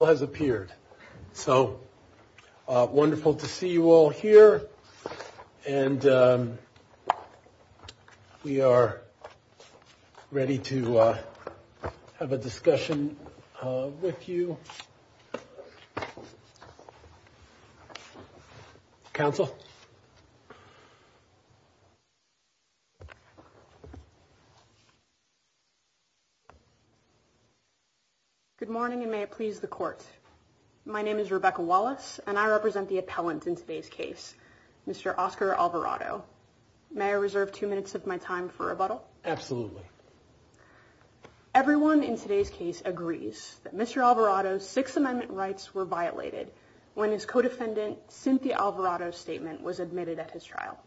has appeared. So wonderful to see you all here. And we are ready to have a discussion with you. Council. Good morning and may it please the court. My name is Rebecca Wallace and I represent the appellant in today's case. Mr. Oscar Alvarado. May I reserve 2 minutes of my time for a bottle? Absolutely. Everyone in today's case agrees that Mr. Alvarado's 6th Amendment rights were violated when his co-defendant Cynthia Alvarado statement was admitted at his trial.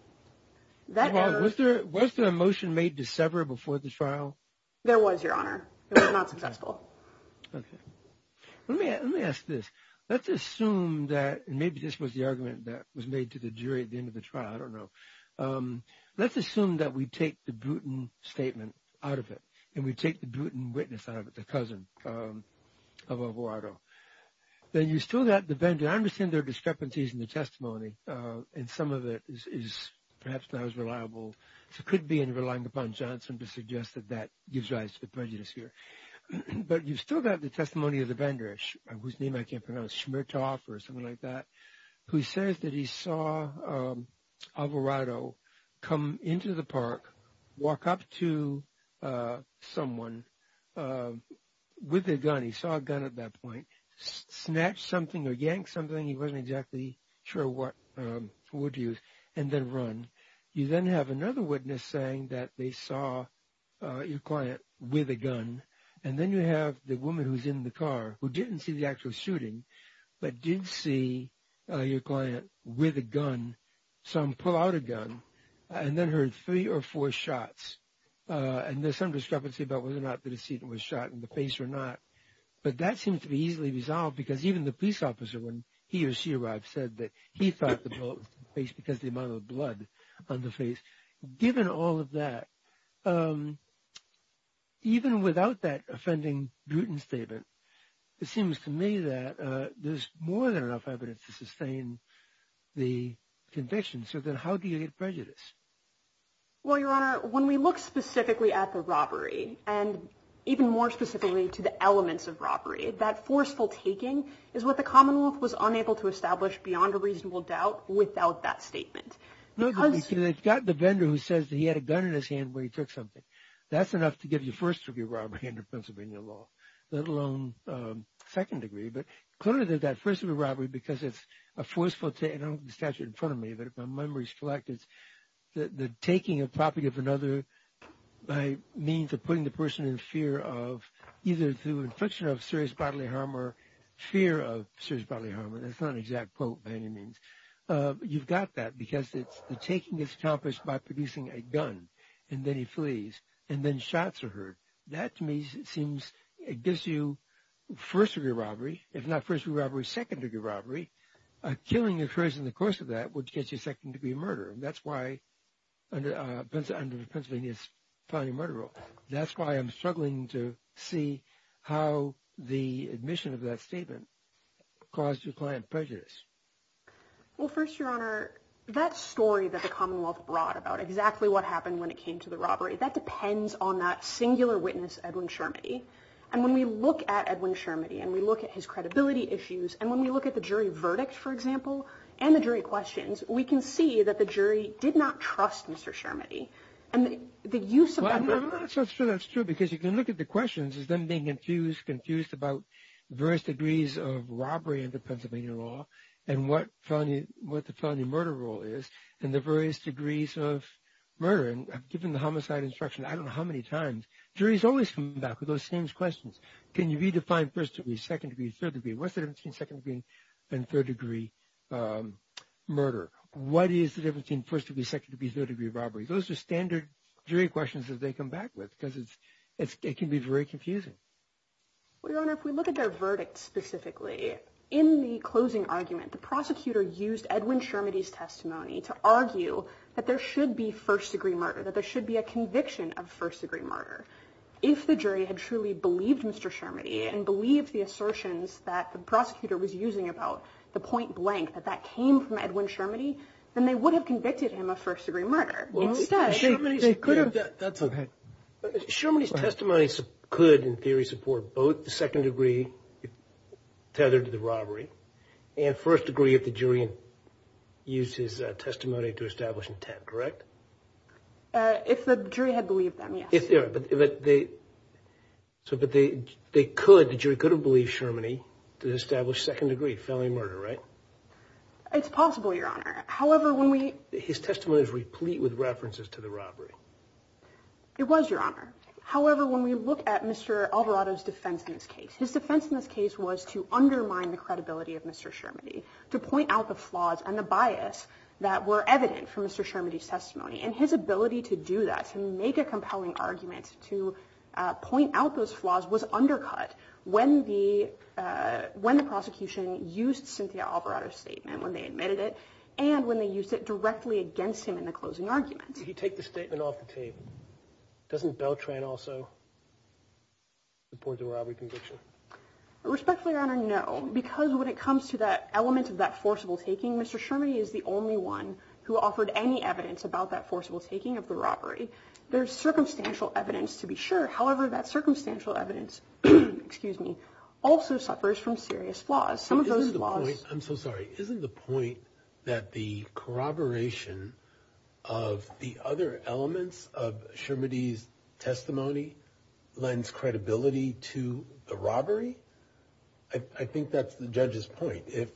Was there a motion made to sever before the trial? There was, Your Honor. It was not successful. Let me ask this. Let's assume that maybe this was the argument that was made to the jury at the end of the trial. I don't know. Let's assume that we take the Bruton statement out of it and we take the Bruton witness out of it, the cousin of Alvarado. Then you still got the vendor. I understand there are discrepancies in the testimony and some of it is perhaps not as reliable as it could be in relying upon Johnson to suggest that that gives rise to the prejudice here. But you still got the testimony of the vendor, whose name I can't pronounce, Shmertoff or something like that, who says that he saw Alvarado come into the park, walk up to someone with a gun, he saw a gun at that point, snatch something or yank something, he wasn't exactly sure what to use, and then run. You then have another witness saying that they saw your client with a gun, and then you have the woman who's in the car who didn't see the actual shooting but did see your client with a gun, some pull out a gun, and then heard three or four shots. And there's some discrepancy about whether or not the decedent was shot in the face or not. But that seems to be easily resolved because even the police officer, when he or she arrived, said that he thought the bullet was in the face because of the amount of blood on the face. Given all of that, even without that offending Bruton statement, it seems to me that there's more than enough evidence to sustain the conviction. So then how do you get prejudice? Well, Your Honor, when we look specifically at the robbery, and even more specifically to the elements of robbery, that forceful taking is what the Commonwealth was unable to establish beyond a reasonable doubt without that statement. It's got the vendor who says that he had a gun in his hand when he took something. That's enough to give you first-degree robbery under Pennsylvania law, let alone second-degree. But clearly there's that first-degree robbery because it's a forceful taking. I don't have the statute in front of me, but if my memory is correct, it's the taking a property of another by means of putting the person in fear of either through infliction of serious bodily harm or fear of serious bodily harm. That's not an exact quote by any means. You've got that because the taking is accomplished by producing a gun, and then he flees, and then shots are heard. That to me seems, it gives you first-degree robbery, if not first-degree robbery, second-degree robbery. Killing occurs in the course of that, which gets you second-degree murder. That's why, under Pennsylvania's felony murder rule, that's why I'm struggling to see how the admission of that statement caused your client prejudice. Well, first, Your Honor, that story that the Commonwealth brought about exactly what happened when it came to the robbery, that depends on that singular witness, Edwin Shermody. And when we look at Edwin Shermody and we look at his credibility issues, and when we look at the jury verdict, for example, and the jury questions, we can see that the jury did not trust Mr. Shermody. Well, I'm not so sure that's true, because you can look at the questions as them being confused about various degrees of robbery under Pennsylvania law, and what the felony murder rule is, and the various degrees of murder. And given the homicide instruction, I don't know how many times, juries always come back with those same questions. Can you redefine first degree, second degree, third degree? What's the difference between second degree and third degree murder? What is the difference between first degree, second degree, third degree robbery? Those are standard jury questions that they come back with, because it can be very confusing. Well, Your Honor, if we look at their verdict specifically, in the closing argument, the prosecutor used Edwin Shermody's testimony to argue that there should be first degree murder, that there should be a conviction of first degree murder. If the jury had truly believed Mr. Shermody, and believed the assertions that the prosecutor was using about the point blank, that that came from Edwin Shermody, then they would have convicted him of first degree murder. Shermody's testimony could, in theory, support both the second degree, tethered to the robbery, and first degree if the jury used his testimony to establish intent, correct? If the jury had believed them, yes. But the jury could have believed Shermody to establish second degree felony murder, right? It's possible, Your Honor. His testimony was replete with references to the robbery. It was, Your Honor. However, when we look at Mr. Alvarado's defense in this case, his defense in this case was to undermine the credibility of Mr. Shermody, to point out the flaws and the bias that were evident from Mr. Shermody's testimony. And his ability to do that, to make a compelling argument, to point out those flaws, was undercut when the prosecution used Cynthia Alvarado's statement, when they admitted it, and when they used it directly against him in the closing argument. If you take the statement off the tape, doesn't Beltran also support the robbery conviction? Respectfully, Your Honor, no. Because when it comes to that element of that forcible taking, Mr. Shermody is the only one who offered any evidence about that forcible taking of the robbery. There's circumstantial evidence to be sure. However, that circumstantial evidence, excuse me, also suffers from serious flaws. I'm so sorry. Isn't the point that the corroboration of the other elements of Shermody's testimony lends credibility to the robbery? I think that's the judge's point. If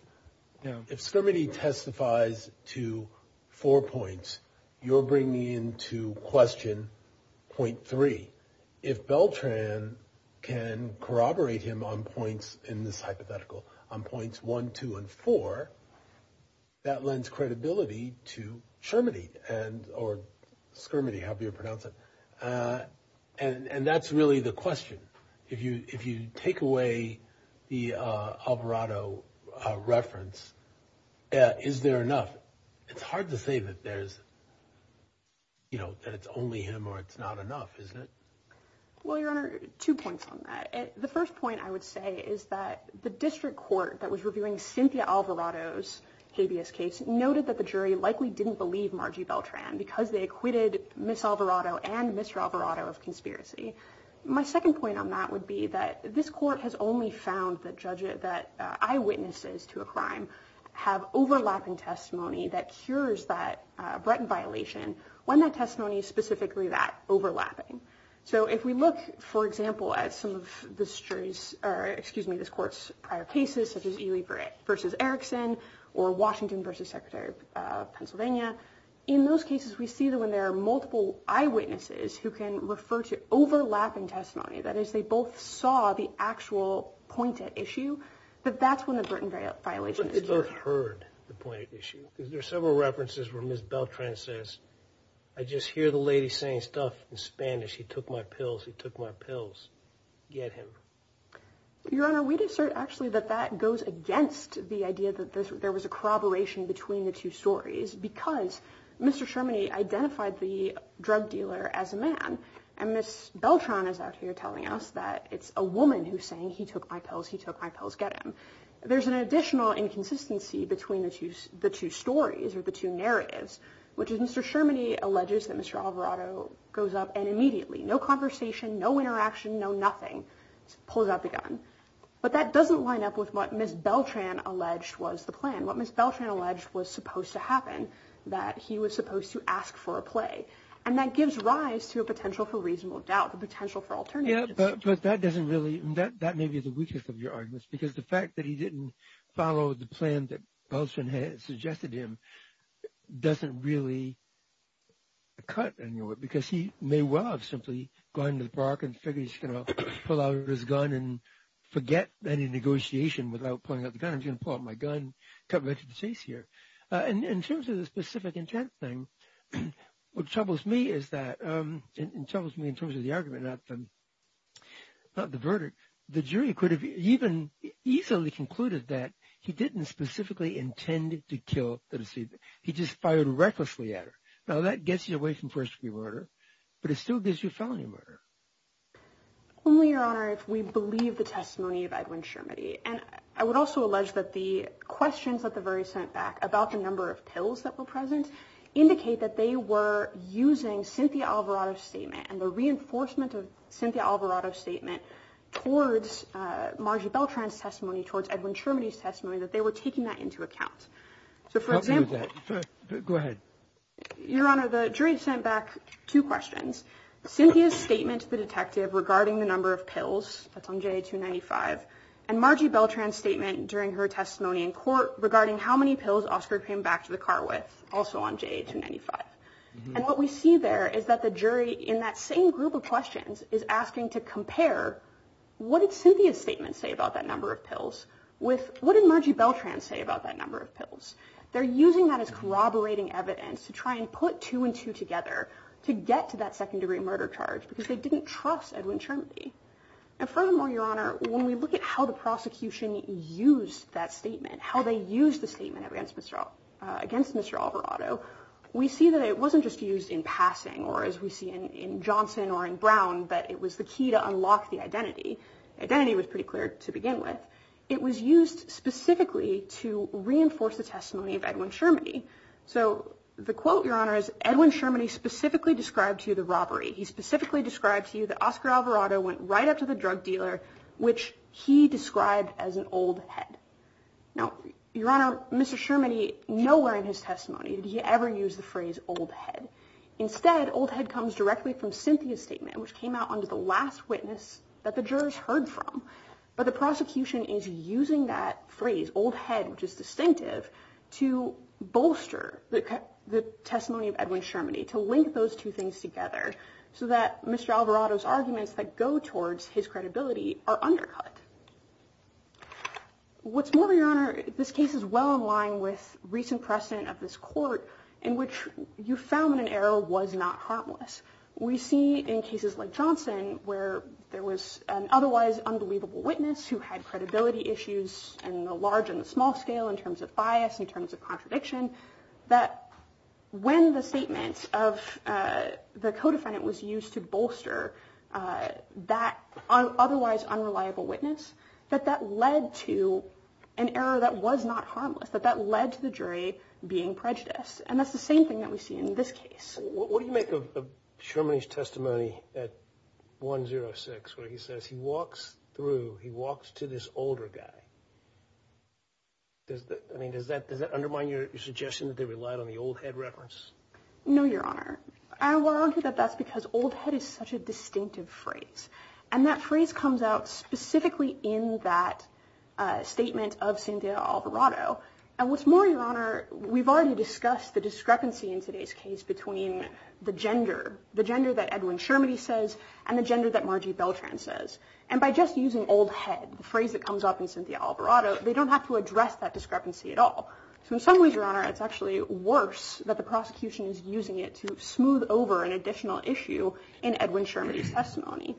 Shermody testifies to four points, you're bringing into question point three. If Beltran can corroborate him on points, in this hypothetical, on points one, two, and four, that lends credibility to Shermody, or Schermody, however you pronounce it. And that's really the question. If you take away the Alvarado reference, is there enough? It's hard to say that there's, you know, that it's only him or it's not enough, isn't it? Well, Your Honor, two points on that. The first point I would say is that the district court that was reviewing Cynthia Alvarado's habeas case noted that the jury likely didn't believe Margie Beltran because they acquitted Ms. Alvarado and Mr. Alvarado of conspiracy. My second point on that would be that this court has only found that eyewitnesses to a crime have overlapping testimony that cures that Bretton violation when that testimony is specifically that overlapping. So if we look, for example, at some of this jury's, or excuse me, this court's prior cases, such as Ely versus Erickson, or Washington versus Secretary of Pennsylvania, in those cases we see that when there are multiple eyewitnesses who can refer to overlapping testimony, that is, they both saw the actual pointed issue, that that's when the Bretton violation is cured. They both heard the pointed issue. There are several references where Ms. Beltran says, I just hear the lady saying stuff in Spanish, he took my pills, he took my pills, get him. Your Honor, we'd assert actually that that goes against the idea that there was a corroboration between the two stories because Mr. Sherman identified the drug dealer as a man, and Ms. Beltran is out here telling us that it's a woman who's saying, he took my pills, he took my pills, get him. There's an additional inconsistency between the two stories, or the two narratives, which is Mr. Sherman alleges that Mr. Alvarado goes up and immediately, no conversation, no interaction, no nothing, pulls out the gun. But that doesn't line up with what Ms. Beltran alleged was the plan. What Ms. Beltran alleged was supposed to happen, that he was supposed to ask for a play. And that gives rise to a potential for reasonable doubt, a potential for alternatives. Yeah, but that doesn't really, that may be the weakest of your arguments. Because the fact that he didn't follow the plan that Beltran had suggested to him, doesn't really cut anywhere. Because he may well have simply gone to the park and figured he's going to pull out his gun and forget any negotiation without pulling out the gun. I'm just going to pull out my gun, cut right to the chase here. In terms of the specific intent thing, what troubles me is that, it troubles me in terms of the argument, not the verdict. The jury could have even easily concluded that he didn't specifically intend to kill the deceiver. He just fired recklessly at her. Now that gets you away from first degree murder, but it still gives you felony murder. Only, Your Honor, if we believe the testimony of Edwin Sherman. And I would also allege that the questions that the jury sent back about the number of pills that were present, indicate that they were using Cynthia Alvarado's statement and the reinforcement of Cynthia Alvarado's statement towards Margie Beltran's testimony, towards Edwin Sherman's testimony, that they were taking that into account. Go ahead. Your Honor, the jury sent back two questions. Cynthia's statement to the detective regarding the number of pills, that's on JA-295. Margie Beltran's statement during her testimony in court regarding how many pills Oscar came back to the car with, also on JA-295. And what we see there is that the jury, in that same group of questions, is asking to compare what did Cynthia's statement say about that number of pills with what did Margie Beltran say about that number of pills. They're using that as corroborating evidence to try and put two and two together to get to that second degree murder charge because they didn't trust Edwin Sherman. And furthermore, Your Honor, when we look at how the prosecution used that statement, how they used the statement against Mr. Alvarado, we see that it wasn't just used in passing or as we see in Johnson or in Brown that it was the key to unlock the identity. Identity was pretty clear to begin with. It was used specifically to reinforce the testimony of Edwin Sherman. So the quote, Your Honor, is Edwin Sherman specifically described to you the robbery. He specifically described to you that Oscar Alvarado went right up to the drug dealer, which he described as an old head. Now, Your Honor, Mr. Sherman, nowhere in his testimony did he ever use the phrase old head. Instead, old head comes directly from Cynthia's statement, which came out under the last witness that the jurors heard from. But the prosecution is using that phrase, old head, which is distinctive, to bolster the testimony of Edwin Sherman, to link those two things together so that Mr. Alvarado's arguments that go towards his credibility are undercut. What's more, Your Honor, this case is well in line with recent precedent of this court in which you found an error was not harmless. We see in cases like Johnson where there was an otherwise unbelievable witness who had credibility issues in the large and the small scale in terms of bias, in terms of contradiction, that when the statement of the co-defendant was used to bolster that otherwise unreliable witness, that that led to an error that was not harmless, that that led to the jury being prejudiced. And that's the same thing that we see in this case. What do you make of Sherman's testimony at 1-0-6 where he says he walks through, he walks to this older guy? Does that undermine your suggestion that they relied on the old head reference? No, Your Honor. We're arguing that that's because old head is such a distinctive phrase. And that phrase comes out specifically in that statement of Cynthia Alvarado. And what's more, Your Honor, we've already discussed the discrepancy in today's case between the gender, the gender that Edwin Sherman says and the gender that Margie Beltran says. And by just using old head, the phrase that comes up in Cynthia Alvarado, they don't have to address that discrepancy at all. So in some ways, Your Honor, it's actually worse that the prosecution is using it to smooth over an additional issue in Edwin Sherman's testimony.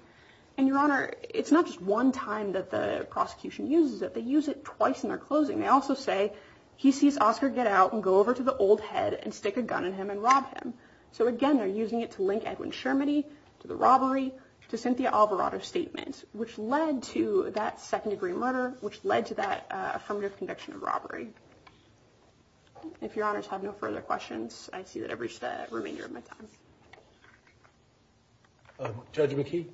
And Your Honor, it's not just one time that the prosecution uses it. They use it twice in their closing. They also say he sees Oscar get out and go over to the old head and stick a gun in him and rob him. So again, they're using it to link Edwin Sherman to the robbery to Cynthia Alvarado's statement, which led to that second-degree murder, which led to that affirmative conviction of robbery. If Your Honors have no further questions, I see that I've reached the remainder of my time. Judge McKee?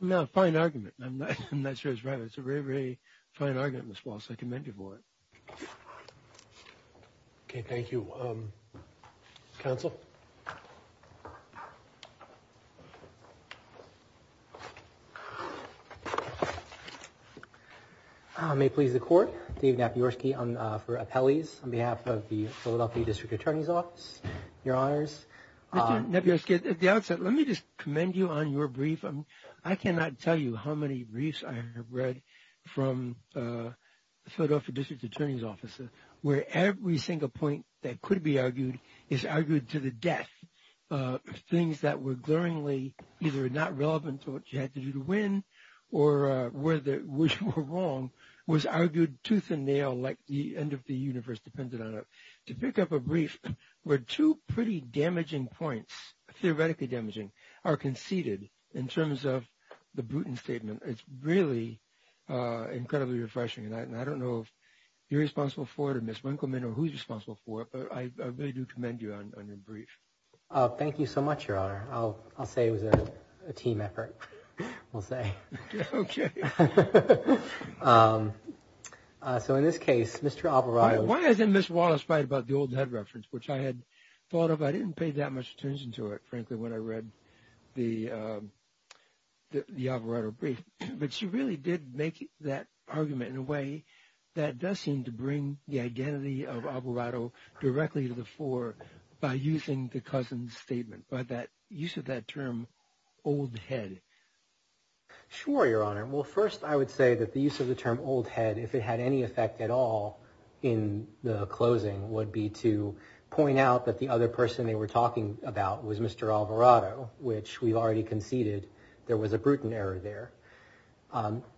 No, fine argument. I'm not sure it's right. It's a very, very fine argument, Ms. Wallace. I commend you for it. Okay, thank you. Counsel? May it please the Court, David Napierski for appellees on behalf of the Philadelphia District Attorney's Office. Mr. Napierski, at the outset, let me just commend you on your brief. I cannot tell you how many briefs I have read from Philadelphia District Attorney's Offices where every single point that could be argued is argued to the death. Things that were glaringly either not relevant to what you had to do to win or were wrong was argued tooth and nail like the end of the universe depended on it. To pick up a brief where two pretty damaging points, theoretically damaging, are conceded in terms of the Bruton Statement, it's really incredibly refreshing. And I don't know if you're responsible for it or Ms. Winkelmann or who's responsible for it, but I really do commend you on your brief. Thank you so much, Your Honor. I'll say it was a team effort, we'll say. Okay. So in this case, Mr. Alvarado... Why hasn't Ms. Wallace write about the old head reference, which I had thought of. I didn't pay that much attention to it, frankly, when I read the Alvarado brief. But she really did make that argument in a way that does seem to bring the identity of Alvarado directly to the fore by using the Cousin's Statement, by that use of that term old head. Sure, Your Honor. Well, first I would say that the use of the term old head, if it had any effect at all in the closing, would be to point out that the other person they were talking about was Mr. Alvarado, which we've already conceded there was a Bruton error there.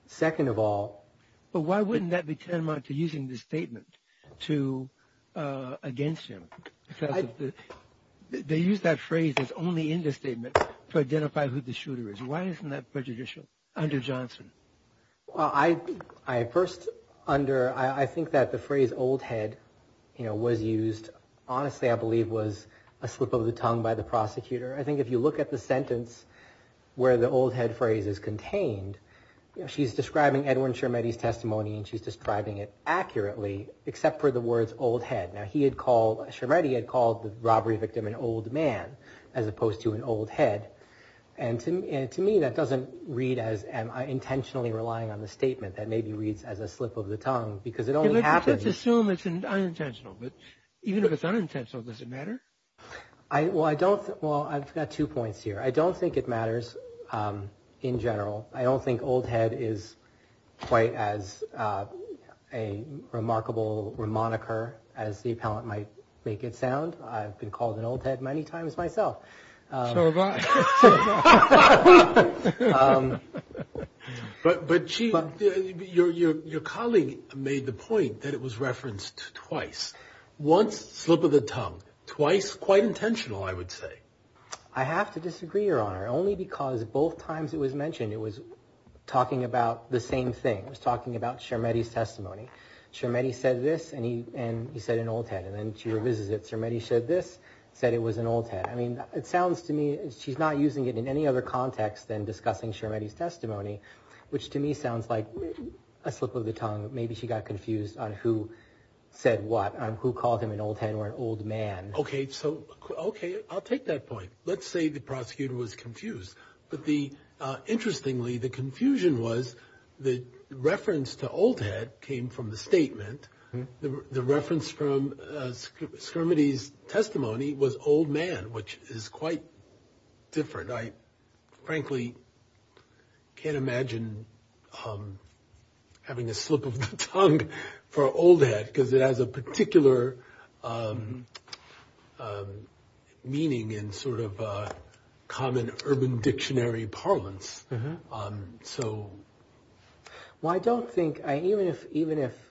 Second of all... But why wouldn't that be tantamount to using the statement against him? Because they use that phrase that's only in the statement to identify who the shooter is. Why isn't that prejudicial under Johnson? Well, I... I think that the phrase old head was used, honestly, I believe, was a slip of the tongue by the prosecutor. I think if you look at the sentence where the old head phrase is contained, she's describing Edwin Schermetti's testimony and she's describing it accurately except for the words old head. Now, Schermetti had called the robbery victim an old man as opposed to an old head. And to me, that doesn't read as... I'm intentionally relying on the statement that maybe reads as a slip of the tongue because it only happens... Let's assume it's unintentional, but even if it's unintentional, does it matter? Well, I don't... Well, I've got two points here. I don't think it matters in general. I don't think old head is quite as a remarkable moniker as the appellant might make it sound. I've been called an old head many times myself. So have I. So have I. But Chief, your colleague made the point that it was referenced twice. Once, slip of the tongue. Twice, quite intentional, I would say. I have to disagree, Your Honor, only because both times it was mentioned it was talking about the same thing. It was talking about Schermetti's testimony. Schermetti said this and he said an old head and then she revises it. Schermetti said this, said it was an old head. It sounds to me she's not using it in any other context than discussing Schermetti's testimony, which to me sounds like a slip of the tongue. Maybe she got confused on who said what, on who called him an old head or an old man. Okay, so... Okay, I'll take that point. Let's say the prosecutor was confused. But the... Interestingly, the confusion was the reference to old head came from the statement. The reference from Schermetti's testimony was old man, which is quite different. I frankly can't imagine having a slip of the tongue for old head because it has a particular meaning in sort of common urban dictionary parlance. So... Well, I don't think... Even if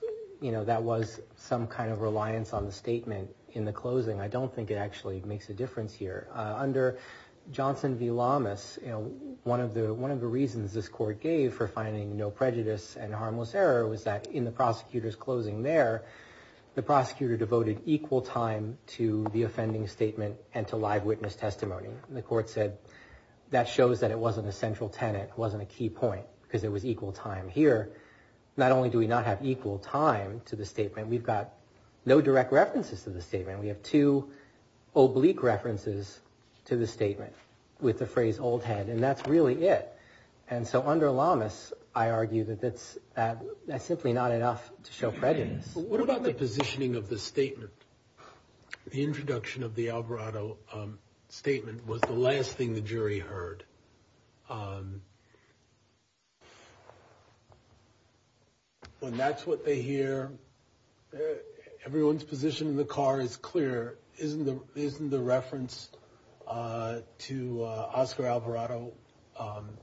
that was some kind of reliance on the statement in the closing, I don't think it actually makes a difference here. Under Johnson v. Lamas, one of the reasons this court gave for finding no prejudice and harmless error was that in the prosecutor's closing there, the prosecutor devoted equal time to the offending statement and to live witness testimony. The court said that shows that it wasn't a central tenet, it wasn't a key point, because it was equal time here. Not only do we not have equal time to the statement, we've got no direct references to the statement. We have two oblique references to the statement with the phrase old head, and that's really it. And so under Lamas, I argue that that's simply not enough to show prejudice. What about the positioning of the statement? The introduction of the Alvarado statement was the last thing the jury heard. When that's what they hear, everyone's position in the car is clear. Isn't the reference to Oscar Alvarado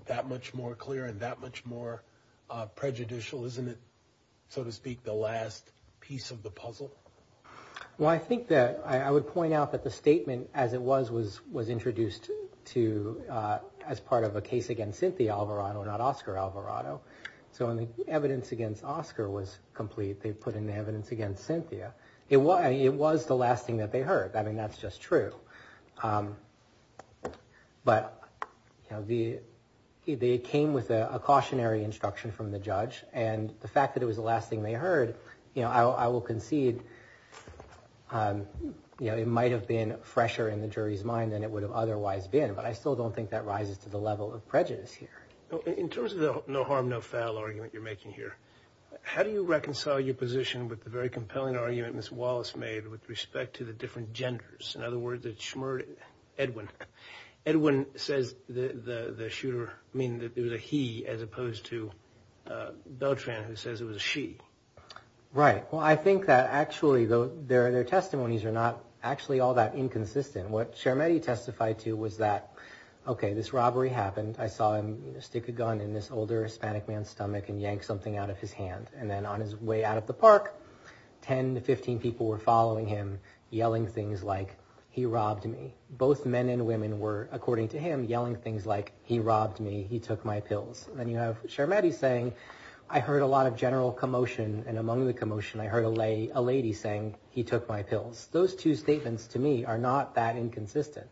that much more clear and that much more prejudicial? Isn't it, so to speak, the last piece of the puzzle? Well, I think that I would point out that the statement as it was was introduced as part of a case against Cynthia Alvarado, not Oscar Alvarado. So when the evidence against Oscar was complete, they put in the evidence against Cynthia. It was the last thing that they heard. I mean, that's just true. But they came with a cautionary instruction from the judge, and the fact that it was the last thing they heard, I will concede it might have been fresher in the jury's mind than it would have otherwise been, but I still don't think that rises to the level of prejudice here. In terms of the no harm, no foul argument in the jury position with the very compelling argument Ms. Wallace made with respect to the different genders. In other words, it shmeared Edwin. Edwin says the shooter, I mean, that it was a he as opposed to Beltran, who says it was a she. Right, well, I think that actually their testimonies are not actually all that inconsistent. What Cermetti testified to was that, okay, this robbery happened. I saw him stick a gun in this older Hispanic man's stomach in the middle of the park. 10 to 15 people were following him yelling things like, he robbed me. Both men and women were, according to him, yelling things like, he robbed me, he took my pills. Then you have Cermetti saying, I heard a lot of general commotion, and among the commotion, I heard a lady saying, he took my pills. Those two statements to me are not that inconsistent.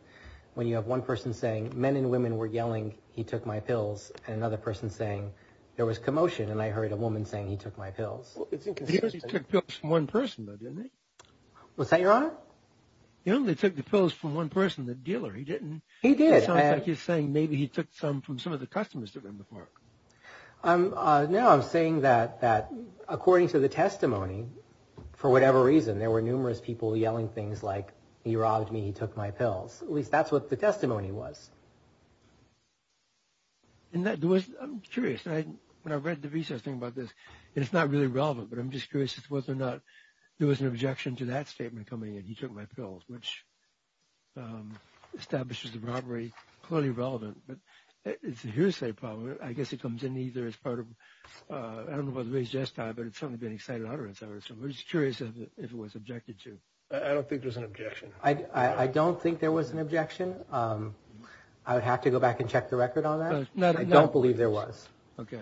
He said he took pills from one person, though, didn't he? What's that, Your Honor? He only took the pills from one person, the dealer. He didn't. He did. It sounds like he's saying maybe he took some from some of the customers that were in the park. No, I'm saying that according to the testimony, for whatever reason, there were numerous people yelling things like, he robbed me, he took my pills. At least that's what the testimony was. I'm curious. When I read the research thing about this, it's not really relevant, but I'm just curious as to whether or not there was an objection to that statement coming in, he took my pills, which establishes the robbery, clearly relevant, but it's a hearsay problem. I guess it comes in either as part of, I don't know whether it was raised just now, but it's certainly been excited utterance, I would assume. I'm just curious if it was objected to. I don't think there's an objection. I don't think there was an objection. I would have to go back and check the record on that. I don't believe there was. Okay.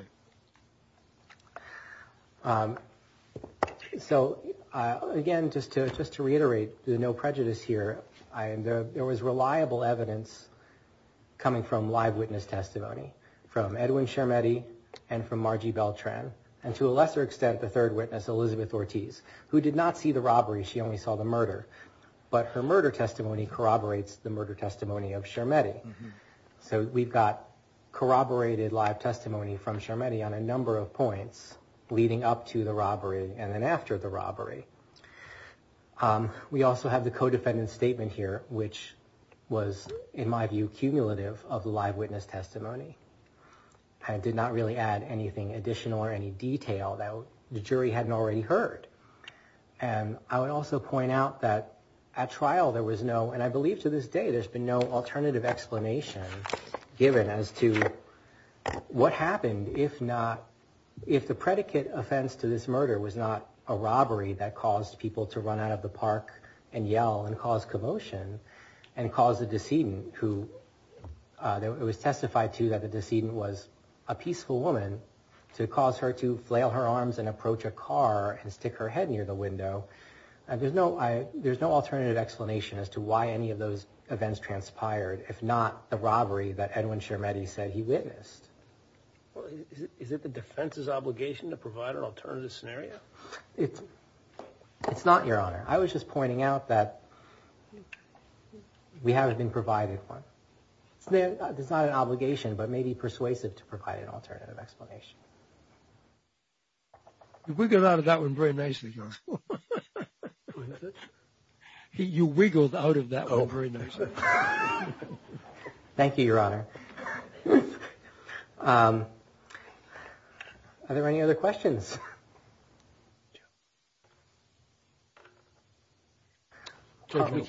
So, again, just to reiterate the no prejudice here, there was reliable evidence coming from live witness testimony from Edwin Schermetti and from Margie Beltran, and to a lesser extent, the third witness, Elizabeth Ortiz, who did not see the robbery, she only saw the murder, but her murder testimony corroborates the murder testimony of Schermetti. So we've got corroborated live testimony from Schermetti on a number of points. Leading up to the robbery and then after the robbery. We also have the co-defendant statement here, which was, in my view, cumulative of the live witness testimony. I did not really add anything additional or any detail that the jury hadn't already heard. And I would also point out that at trial, there was no, and I believe to this day, there's been no alternative explanation given as to what happened if not, if the predicate offense to this murder was not a robbery that caused people to run out of the park and yell and cause commotion and cause the decedent who, it was testified to that the decedent was a peaceful woman to cause her to flail her arms and approach a car and stick her head near the window. There's no, there's no alternative explanation as to why any of those events transpired if not the robbery that Edwin Schermetti said he witnessed. Is it the defense's obligation to provide an alternative scenario? It's, it's not, Your Honor. I was just pointing out that we haven't been provided for. It's not an obligation but may be persuasive to provide an alternative explanation. You wiggled out of that one very nicely, Your Honor. You wiggled out of that one very nicely. Thank you, Your Honor. Thank you, Your Honor. Are there any other questions? Thank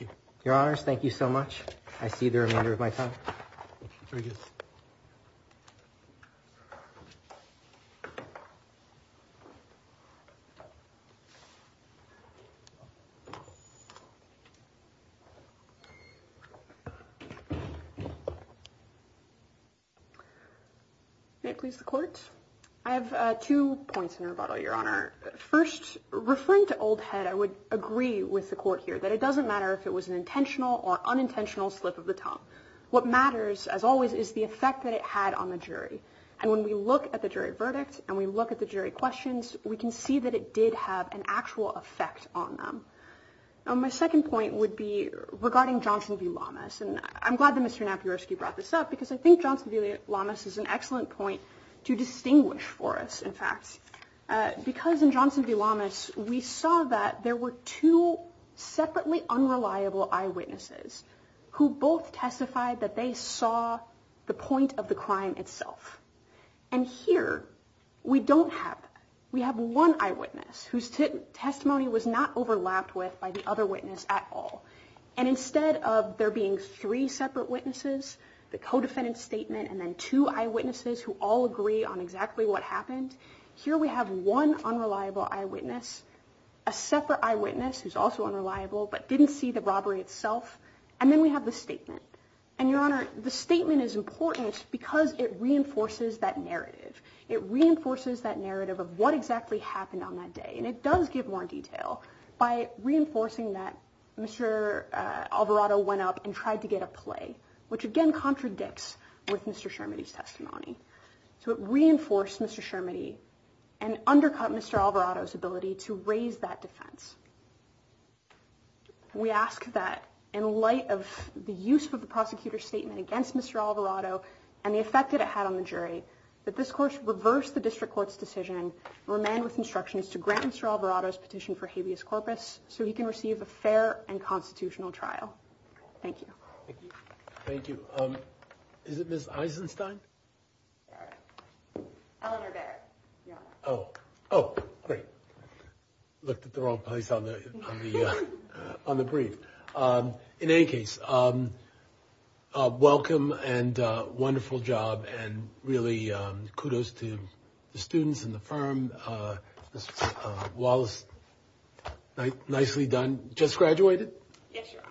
you. Your Honors, thank you so much. I see the remainder of my time. May it please the Court? I have two points in rebuttal, Your Honor. First, referring to Old Head, I would agree with the Court here that it doesn't matter if it was an intentional or unintentional slip of the tongue. What matters, as always, is the effect that it had on the jury. And when we look at the jury verdict and we look at the jury questions, we can see that it did have an actual effect on them. My second point would be regarding the Johnson v. Lamas. And I'm glad that Mr. Napierski brought this up because I think Johnson v. Lamas is an excellent point to distinguish for us, in fact. Because in Johnson v. Lamas, we saw that there were two separately unreliable eyewitnesses who both testified that they saw the point of the crime we don't have that. We have one eyewitness whose testimony was not overlapped with by the other witness at all. And instead, the eyewitness who testified instead of there being three separate witnesses, the co-defendant statement, and then two eyewitnesses who all agree on exactly what happened, here we have one unreliable eyewitness, a separate eyewitness who's also unreliable but didn't see the robbery itself, and then we have the statement. And Your Honor, the statement is important because it reinforces that narrative. It reinforces that narrative of what exactly happened on that day. And it does give more detail by reinforcing that Mr. Alvarado went up and tried to get a play, which again, with Mr. Shermody's testimony. So it reinforced Mr. Shermody and undercut Mr. Alvarado's ability to raise that defense. We ask that in light of the use of the prosecutor's statement against Mr. Alvarado and the effect that it had on the jury, that this court reverse the district court's decision and remand with instructions to grant Mr. Alvarado's petition for habeas corpus so he can receive a fair and constitutional trial. Thank you. Thank you. Thank you. Is it Ms. Eisenstein? Eleanor Barrett, Your Honor. Oh, great. Looked at the wrong place on the brief. In any case, welcome and wonderful job kudos to the students and the firm. Ms. Wallace, nicely done. Just graduated? Yes, Your Honor.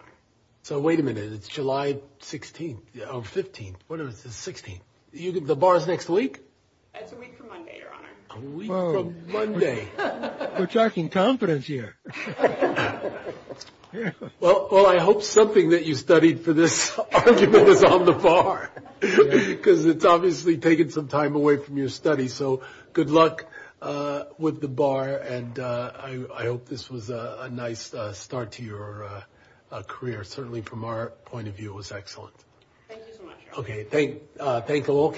So wait a minute. It's July 16th or 15th. What is it? 16th. The bar is next week? It's a week from Monday, Your Honor. A week from Monday. We're talking confidence here. Well, I hope something that you studied for this argument was on the bar because it's obviously taken some time away from your study. So good luck with the bar and I hope this was a nice start to your career. Certainly from our point of view, it was excellent. Thank you so much, Your Honor. Thank you all.